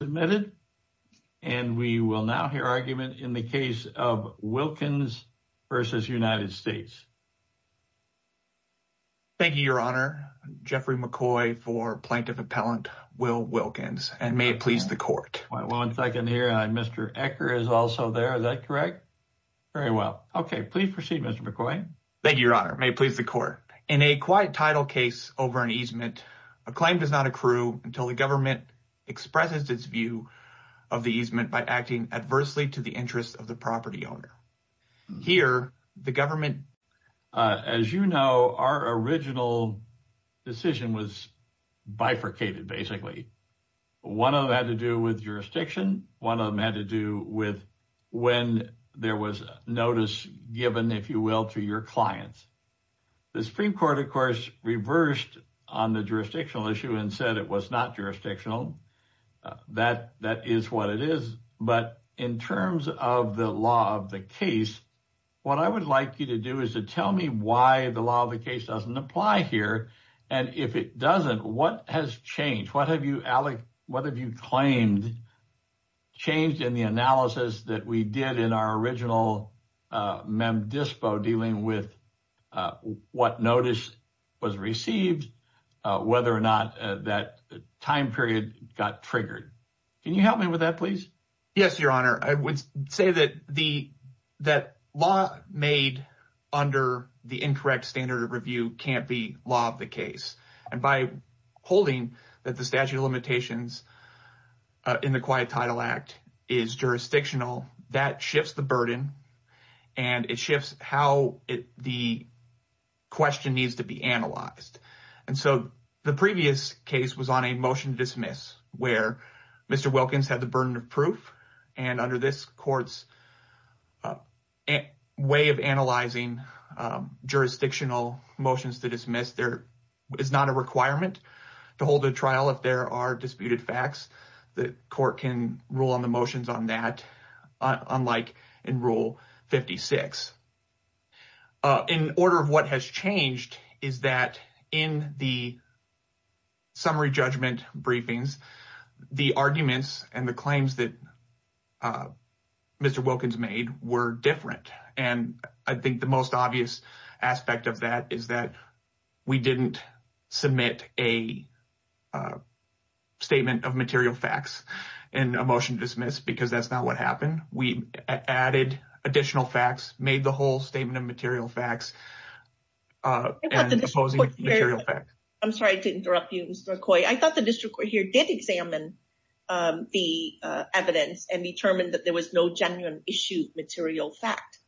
Thank you, Your Honor. In a quiet title case over an easement, a claim does not accrue until the government expresses its view of the easement by acting adversely to the interests of the property owner. Here, the government… As you know, our original decision was bifurcated, basically. One of them had to do with jurisdiction. One of them had to do with when there was notice given, if you will, to your clients. The Supreme Court, of course, reversed on the jurisdictional issue and said it was not jurisdictional. That is what it is. But in terms of the law of the case, what I would like you to do is to tell me why the law of the case doesn't apply here. And if it doesn't, what has changed? What have you claimed changed in the analysis that we did in our original mem dispo dealing with what notice was received, whether or not that time period got triggered? Can you help me with that, please? Yes, Your Honor. I would say that the law made under the incorrect standard of review can't be law of the case. And by holding that the statute of limitations in the Quiet Title Act is jurisdictional, that shifts the burden and it shifts how the question needs to be analyzed. And so, the previous case was on a motion to dismiss where Mr. Wilkins had the burden of proof and under this court's way of analyzing jurisdictional motions to dismiss, there is not a requirement to hold a trial if there are disputed facts. The court can rule on the motions on that unlike in Rule 56. In order of what has changed is that in the summary judgment briefings, the arguments and the claims that Mr. Wilkins made were different. And I think the most obvious aspect of that is that we didn't submit a statement of material facts in a motion to dismiss because that's not what happened. We added additional facts, made the whole statement of material facts and opposing material facts. I'm sorry to interrupt you, Mr. McCoy. I thought the district court here did examine the evidence and determined that there was no genuine issue material fact.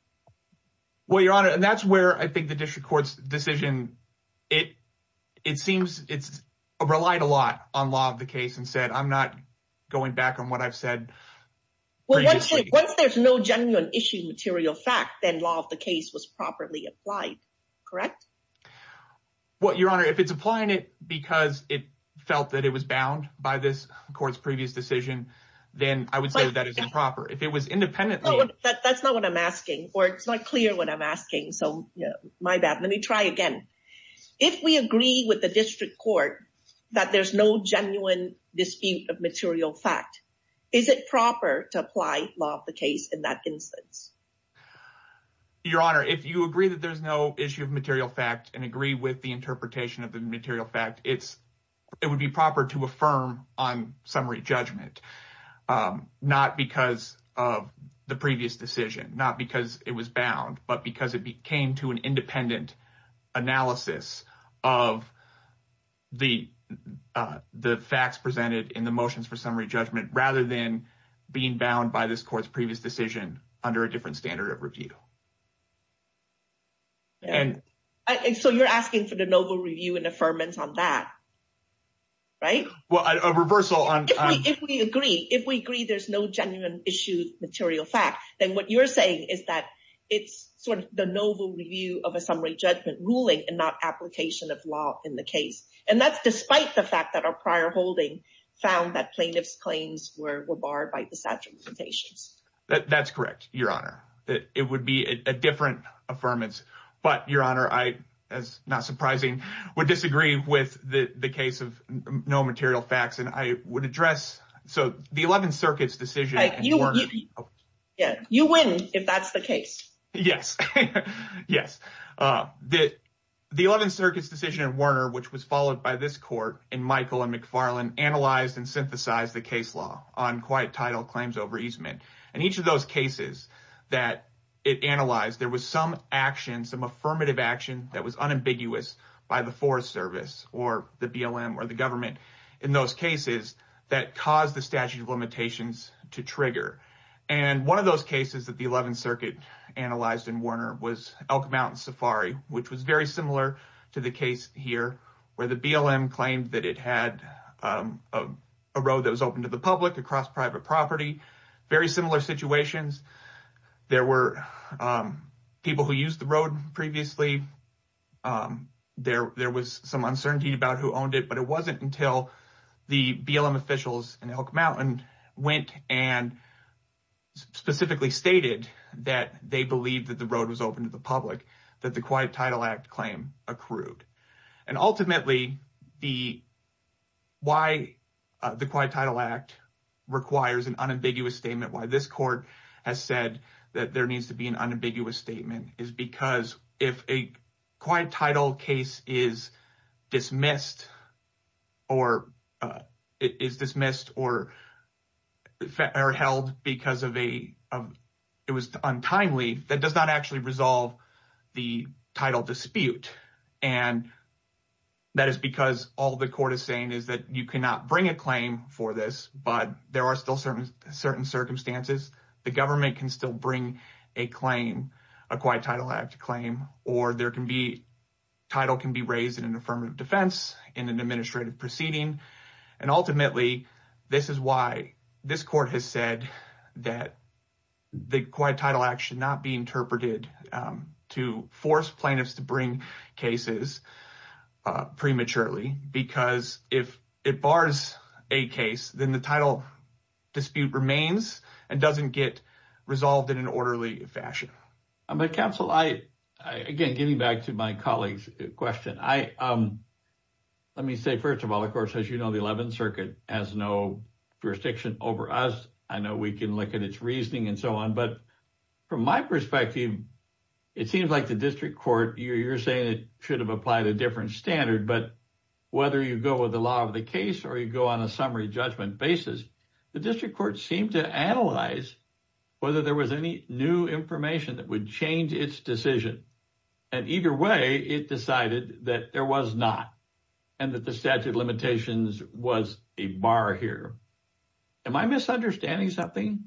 Well, Your Honor, and that's where I think the district court's decision, it seems it's relied a lot on law of the case and said I'm not going back on what I've said previously. Once there's no genuine issue material fact, then law of the case was properly applied, correct? Well, Your Honor, if it's applying it because it felt that it was bound by this court's previous decision, then I would say that is improper. If it was independently... That's not what I'm asking or it's not clear what I'm asking, so my bad. Let me try again. If we agree with the district court that there's no genuine dispute of material fact, is it proper to apply law of the case in that instance? Your Honor, if you agree that there's no issue of material fact and agree with the interpretation of the material fact, it would be proper to affirm on summary judgment, not because of the previous decision, not because it was bound, but because it came to an independent analysis of the facts presented in the motions for summary judgment rather than being bound by this court's previous decision under a different standard of review. So you're asking for the novel review and affirmance on that, right? Well, a reversal on... If we agree there's no genuine issue of material fact, then what you're asking is a novel review of a summary judgment ruling and not application of law in the case. And that's despite the fact that our prior holding found that plaintiff's claims were barred by the statute of limitations. That's correct, Your Honor. It would be a different affirmance, but Your Honor, I, as not surprising, would disagree with the case of no material facts and I would address... So the 11th Circuit's decision... Yeah, you win if that's the case. Yes, yes. The 11th Circuit's decision in Warner, which was followed by this court in Michael and McFarland, analyzed and synthesized the case law on quiet title claims over easement. And each of those cases that it analyzed, there was some action, some affirmative action that was unambiguous by the Forest Service or the BLM or the government in those cases that caused the 11th Circuit analyzed in Warner was Elk Mountain Safari, which was very similar to the case here, where the BLM claimed that it had a road that was open to the public across private property, very similar situations. There were people who used the road previously. There was some uncertainty about who owned it, but it wasn't until the BLM officials in Elk that they believed that the road was open to the public that the Quiet Title Act claim accrued. And ultimately, why the Quiet Title Act requires an unambiguous statement, why this court has said that there needs to be an unambiguous statement is because if a quiet title case is dismissed or held because it was untimely, that does not actually resolve the title dispute. And that is because all the court is saying is that you cannot bring a claim for this, but there are still certain circumstances. The government can still bring a claim, a Quiet Title Act claim, or title can be raised in an affirmative defense, in an administrative proceeding. And ultimately, this is why this court has said that the Quiet Title Act should not be interpreted to force plaintiffs to bring cases prematurely, because if it bars a case, then the title dispute remains and doesn't get resolved in an orderly fashion. Counsel, again, getting back to my colleague's question, let me say, first of all, of course, as you know, the 11th Circuit has no jurisdiction over us. I know we can look at its reasoning and so on, but from my perspective, it seems like the district court, you're saying it should have applied a different standard, but whether you go with the law of the case or you go on a summary judgment basis, the district court seemed to analyze whether there was any new information that would change its decision. And either way, it decided that there was not, and that the statute limitations was a bar here. Am I misunderstanding something?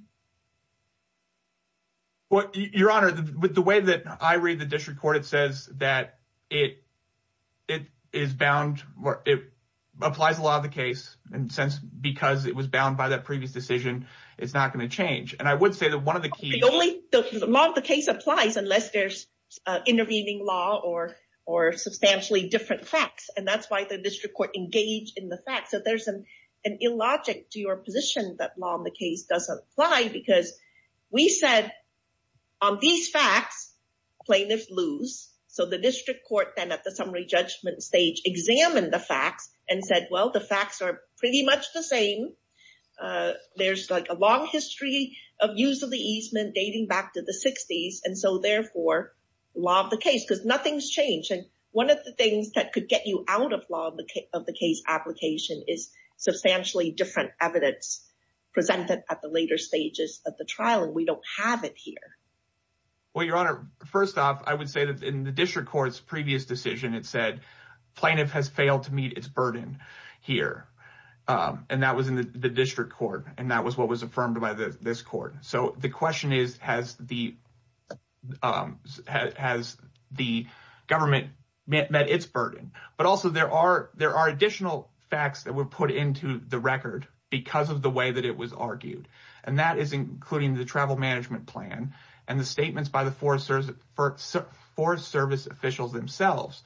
Well, Your Honor, the way that I read the district court, it says that it applies the law of the case, and because it was bound by that previous decision, it's not going to change. The law of the case applies unless there's intervening law or substantially different facts, and that's why the district court engaged in the facts. So there's an illogic to your position that law of the case doesn't apply, because we said on these facts, plaintiffs lose. So the district court then at the summary judgment stage examined the facts and said, well, the facts are pretty much the same. There's like a long history of use of the easement dating back to the 60s, and so therefore, law of the case, because nothing's changed. And one of the things that could get you out of law of the case application is substantially different evidence presented at the later stages of the trial, and we don't have it here. Well, Your Honor, first off, I would say that in the district court's previous decision, it said plaintiff has failed to meet its burden here, and that was in the district court, and that was what was affirmed by this court. So the question is, has the government met its burden? But also, there are additional facts that were put into the record because of the way that it was argued, and that is including the travel management plan and the statements by the Forest Service officials themselves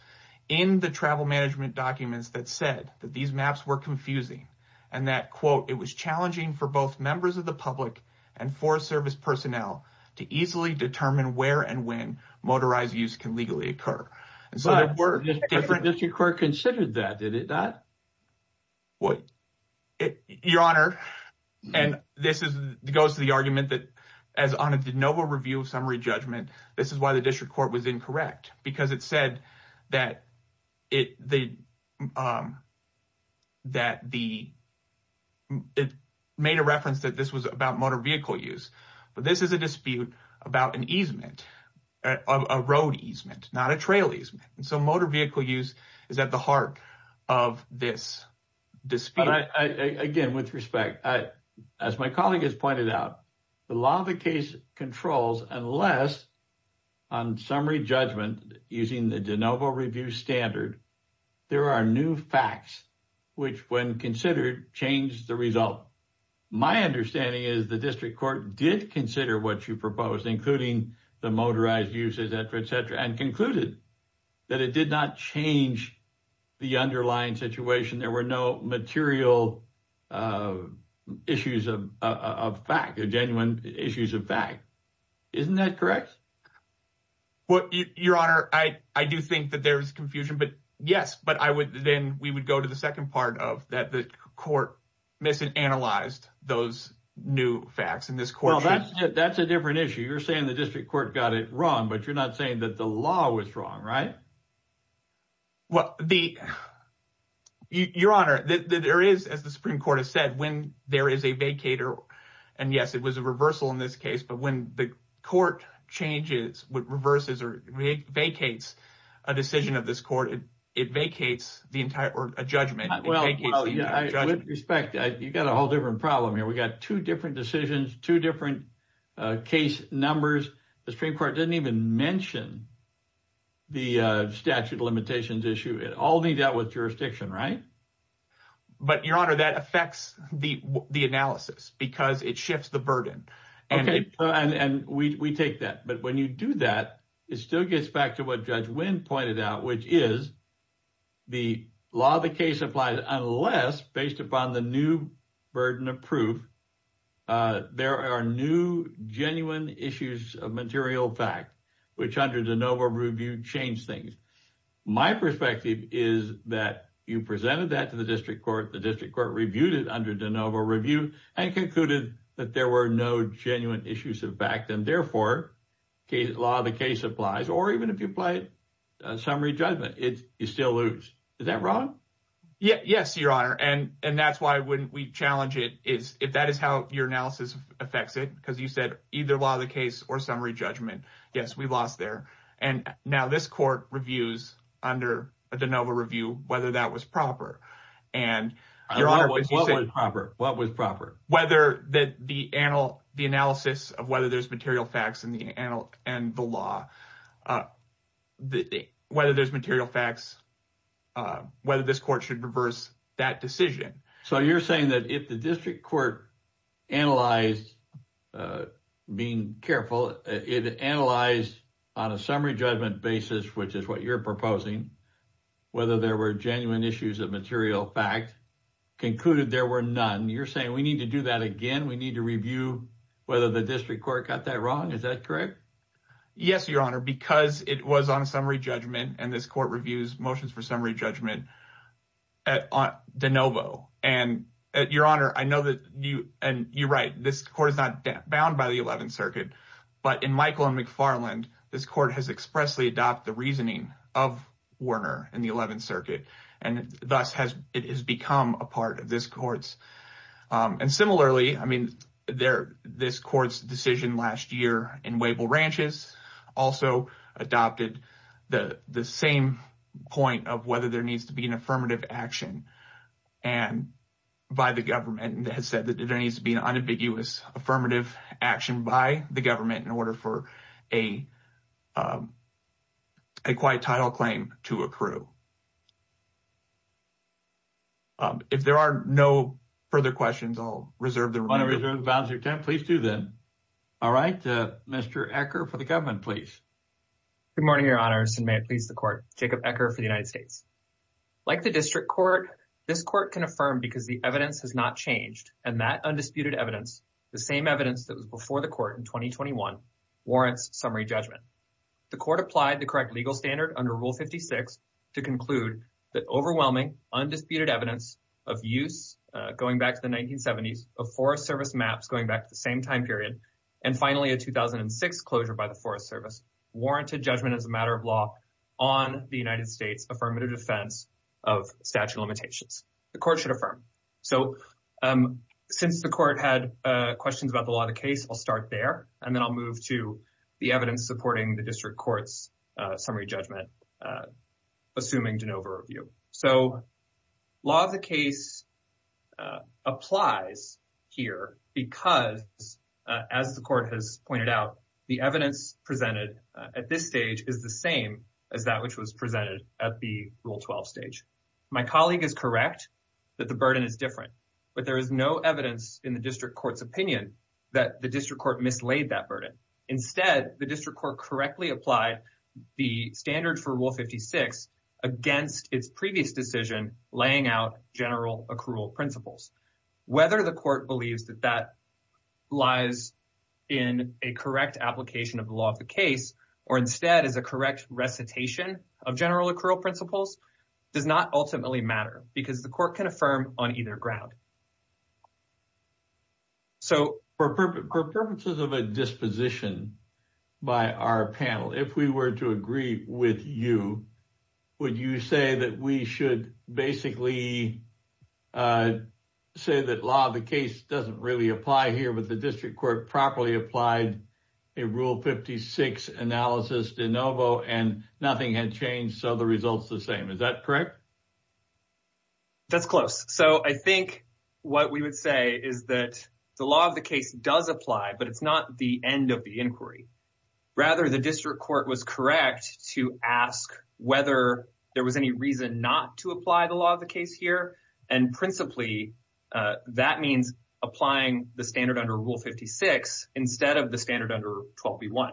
in the travel management documents that said that these maps were confusing, and that, quote, it was challenging for both members of the public and Forest Service personnel to easily determine where and when motorized use can legally occur. But the district court considered that, did it not? Well, Your Honor, and this goes to the argument that as on a de novo review of summary judgment, this is why the district court was incorrect, because it said that it made a reference that this was about motor vehicle use, but this is a dispute about an easement, a road easement, not a trail easement, and so motor vehicle use is at the heart of this dispute. But I, again, with respect, as my colleague has pointed out, the law of the case controls unless on summary judgment, using the de novo review standard, there are new facts which, when considered, change the result. My understanding is the district court did consider what you proposed, including the motorized uses, et cetera, et cetera, and concluded that it did not change the underlying situation. There were no material issues of fact, genuine issues of fact. Isn't that correct? Well, Your Honor, I do think that there's confusion, but yes, but then we would go to the second part of that the court misanalyzed those new facts in this court. That's a different issue. You're saying the district court got it wrong, but you're not saying that the law was wrong, right? Well, Your Honor, there is, as the Supreme Court has said, when there is a vacator, and yes, it was a reversal in this case, but when the court changes, reverses, or vacates a decision of this court, it vacates a judgment. Well, with respect, you've got a whole different problem here. We've got two different decisions, two different case numbers. The Supreme Court didn't even mention the statute of limitations issue. It all leads out with jurisdiction, right? But Your Honor, that affects the analysis because it shifts the burden. Okay, and we take that, but when you do that, it still gets back to what Judge Wynn pointed out, which is the law of the case applies unless based upon the new burden of proof there are new genuine issues of material fact, which under de novo review changed things. My perspective is that you presented that to the district court, the district court reviewed it under de novo review, and concluded that there were no genuine issues of fact, and therefore, law of the case applies, or even if you applied summary judgment, you still lose. Is that wrong? Yes, Your Honor, and that's why when we challenge it, if that is how your analysis affects it, because you said either law of the case or summary judgment, yes, we lost there. Now, this court reviews under de novo review whether that was proper. Your Honor, what was proper? Whether the analysis of whether there's material facts and the law, whether there's material facts, whether this court should reverse that decision. So you're saying that if the district court analyzed, being careful, it analyzed on a summary judgment basis, which is what you're proposing, whether there were genuine issues of material fact, concluded there were none. You're saying we need to do that again. We need to review whether the district court got that wrong. Is that correct? Yes, Your Honor, because it was on a summary judgment and this court reviews motions for summary judgment de novo, and Your Honor, I know that you're right. This court is not bound by the 11th Circuit, but in Michael and McFarland, this court has expressly adopted the reasoning of Warner in the 11th Circuit, and thus it has become a part of this court's. And similarly, I mean, this court's decision last year in Wavell Ranches also adopted the same point of whether there needs to be an affirmative action by the government that has said that there needs to be an unambiguous affirmative action by the government in order for a quiet title claim to accrue. If there are no further questions, I'll reserve the remainder. You want to reserve the balance of your time? Please do then. All right. Mr. Ecker for the United States. Like the district court, this court can affirm because the evidence has not changed, and that undisputed evidence, the same evidence that was before the court in 2021, warrants summary judgment. The court applied the correct legal standard under Rule 56 to conclude that overwhelming undisputed evidence of use going back to the 1970s, of Forest Service maps going back to the same time period, and finally a 2006 closure by the Forest Service warranted judgment as a matter of law on the United States affirmative defense of statute limitations. The court should affirm. So since the court had questions about the law of the case, I'll start there, and then I'll move to the evidence supporting the district court's summary judgment, assuming de novo review. So law of the case applies here because, as the court has pointed out, the evidence presented at this stage is the same as that which was presented at the Rule 12 stage. My colleague is correct that the burden is different, but there is no evidence in the district court's opinion that the district court mislaid that burden. Instead, the district court correctly applied the standard for Rule 56 against its previous decision laying out general accrual principles. Whether the court believes that that lies in a correct application of the law of the case or instead is a correct recitation of general accrual principles does not ultimately matter because the court can affirm on either ground. So for purposes of a disposition by our panel, if we were to agree with you, would you say that we should basically say that law of the case doesn't really apply here, but the district court properly applied a Rule 56 analysis de novo and nothing had changed, so the result's the same. Is that correct? That's close. So I think what we would say is that the law of the case does apply, but it's not the end of the inquiry. Rather, the district court was correct to ask whether there was any reason not to apply the law of the case here, and principally, that means applying the standard under Rule 56 instead of the standard under 12B1.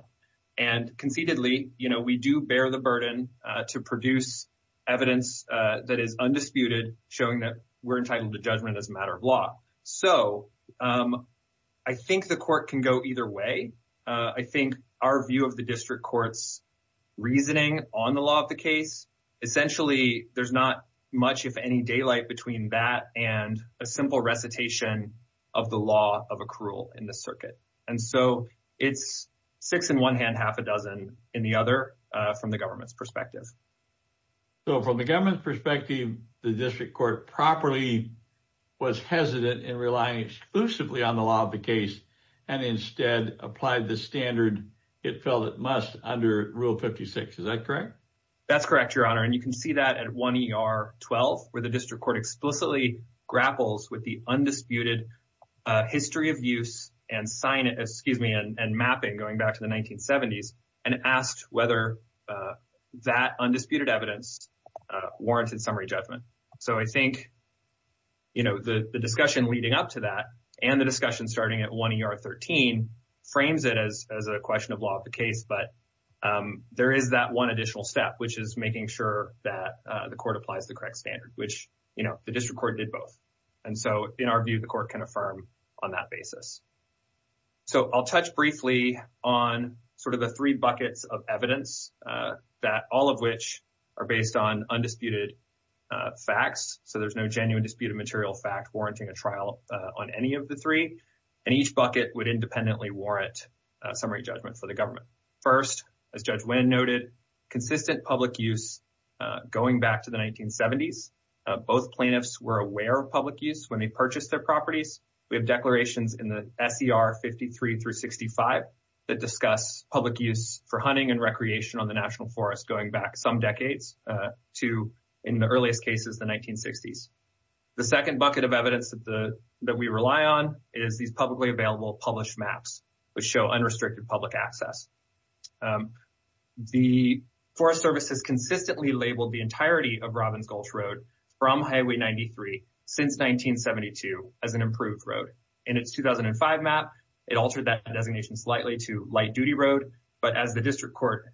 And concededly, we do bear the burden to produce evidence that is undisputed, showing that we're entitled to judgment as a matter of law. So I think the court can go either way. I think our view of the district court's reasoning on the law of the case, essentially, there's not much, if any, daylight between that and a simple recitation of the law of accrual in the circuit. And so it's six in one hand, half a dozen in the other from the government's perspective. So from the government's perspective, the district court properly was hesitant in relying exclusively on the law of the case and instead applied the standard it felt it must under Rule 56. Is that correct? That's correct, Your Honor. And you can see that at 1ER12, where the district court explicitly grapples with the undisputed history of use and mapping going back to the 1970s and asked whether that undisputed evidence warranted summary judgment. So I think the discussion leading up to that and the discussion starting at 1ER13 frames it as a question of law of the case, but there is that one additional step, which is making sure that the court applies the correct standard, which the district court did both. And so in our view, the court can affirm on that basis. So I'll touch briefly on sort of the three buckets of evidence that all of which are based on undisputed facts. So there's no genuine disputed material fact warranting a trial on any of the three. And each bucket would independently warrant summary judgment for the government. First, as Judge Wynn noted, consistent public use going back to the 1970s. Both plaintiffs were aware of public use when they purchased their properties. We have declarations in the SCR 53 through 65 that discuss public use for hunting and recreation on the National Forest going back some decades to, in the earliest cases, the 1960s. The second bucket of evidence that we rely on is these publicly available published maps, which show unrestricted public access. The Forest Service has consistently labeled the entirety of Robbins Gulch Road from Highway 93 since 1972 as an improved road. In its 2005 map, it altered that designation slightly to light-duty road. But as the district court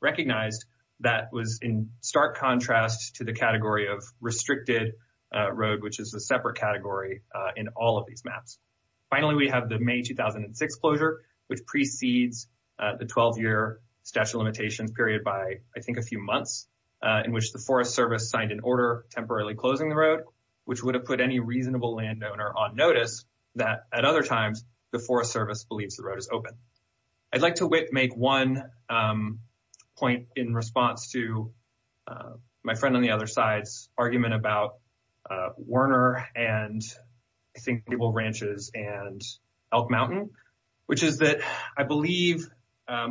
recognized, that was in stark contrast to the category of restricted road, which is a separate category in all of these maps. Finally, we have the May 2006 closure, which precedes the 12-year statute of limitations period by, I think, a few months in which the Forest Service signed an order temporarily closing the road, which would have put any reasonable landowner on notice that, at other times, the Forest Service believes the road is open. I'd like to make one point in response to my friend on the other side's argument about Werner and, I think, Maple Ranches and Elk Mountain, which is that I believe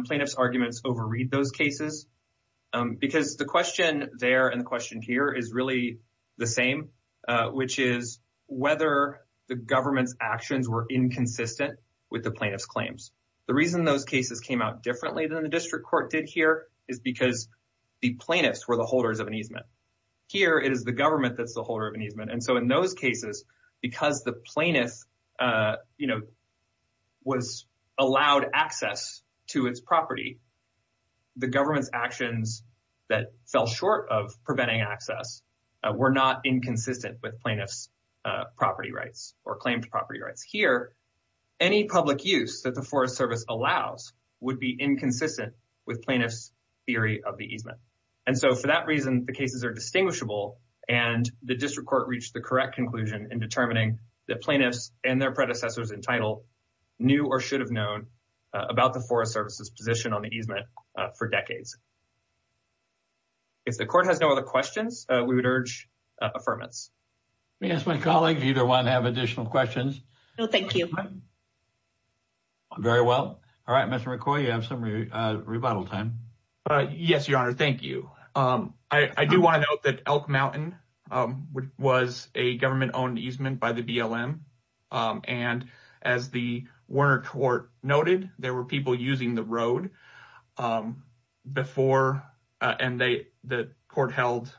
plaintiffs' arguments overread those cases, because the question there and the question here is really the same, which is whether the government's actions were inconsistent with the plaintiff's claims. The reason those cases came out differently than the district court did here is because the plaintiffs were the holders of an easement. Here, it is the government that's the holder of an easement. And so, in those cases, because the plaintiff was allowed access to its property, the government's actions that fell short of preventing access were not inconsistent with plaintiffs' property rights or claimed property rights. Here, any public use that the Forest Service allows would be inconsistent with plaintiffs' theory of the easement. And so, for that reason, the cases are distinguishable, and the district court reached the correct conclusion in determining that plaintiffs and their predecessors entitled knew or should have known about the Forest Service's position on the easement for decades. If the court has no other questions, we would urge affirmance. Let me ask my colleague if either one have additional questions. No, thank you. Very well. All right, Mr. McCoy, you have some rebuttal time. Yes, Your Honor, thank you. I do want to note that Elk Mountain was a government-owned easement by the BLM, and as the Werner Court noted, there were people using the road before, and the court held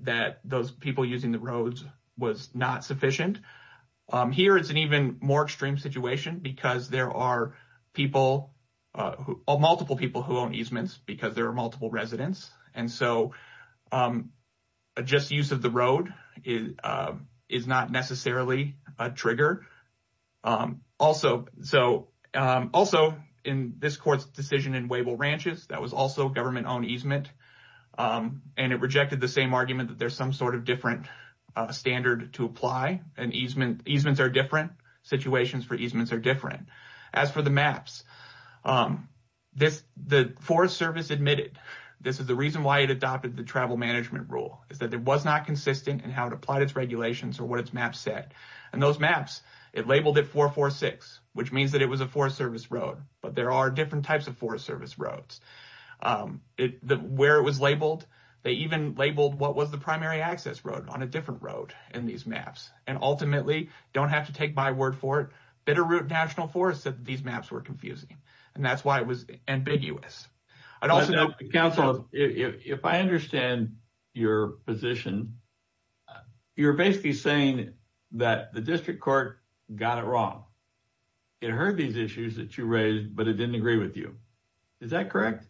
that those people using the roads was not sufficient. Here, it's an even more extreme situation because there are people, multiple people, who own easements because there are multiple residents. And so, a just use of the road is not necessarily a trigger. Also, in this court's decision in Wavell Ranches, that was also a government-owned easement, and it rejected the same argument that there's some sort of different standard to apply, and easements are different. Situations for easements are different. As for the maps, the Forest Service admitted this is the reason why it adopted the travel management rule, is that it was not consistent in how it applied its regulations or what its maps said. And those maps, it labeled it 446, which means that it was a Forest Service road, but there are different types of Forest Service roads. Where it was labeled, they even labeled what was the primary access road on a different road in these maps, and ultimately, don't have to take my word for it, Bitterroot National Forest said these maps were and that's why it was ambiguous. I'd also note, counsel, if I understand your position, you're basically saying that the district court got it wrong. It heard these issues that you raised, but it didn't agree with you. Is that correct?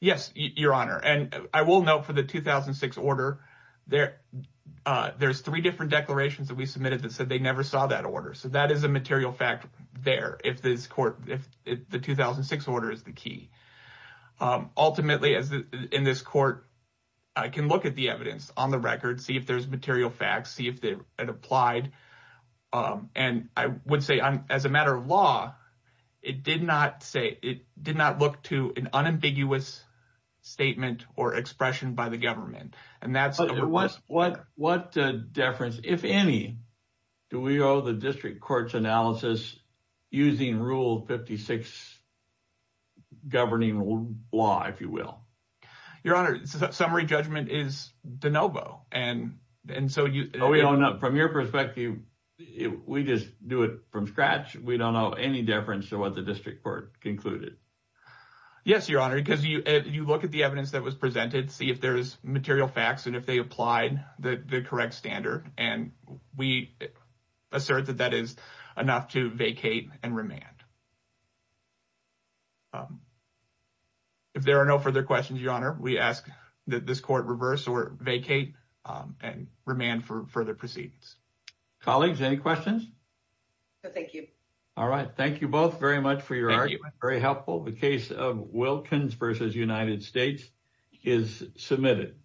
Yes, your honor, and I will note for the 2006 order, there's three different declarations that we submitted that said they never saw that so that is a material fact there, if the 2006 order is the key. Ultimately, in this court, I can look at the evidence on the record, see if there's material facts, see if it applied, and I would say, as a matter of law, it did not look to an unambiguous statement or expression by the government. What deference, if any, do we owe the district court's analysis using Rule 56 governing law, if you will? Your honor, summary judgment is de novo. From your perspective, we just do it from scratch. We don't owe any deference to what the district court concluded. Yes, your honor, because you look at the evidence that was material facts and if they applied the correct standard and we assert that that is enough to vacate and remand. If there are no further questions, your honor, we ask that this court reverse or vacate and remand for further proceedings. Colleagues, any questions? Thank you. All right, thank you both very much for your argument. Very helpful. The case of Hopkins v. United States is submitted.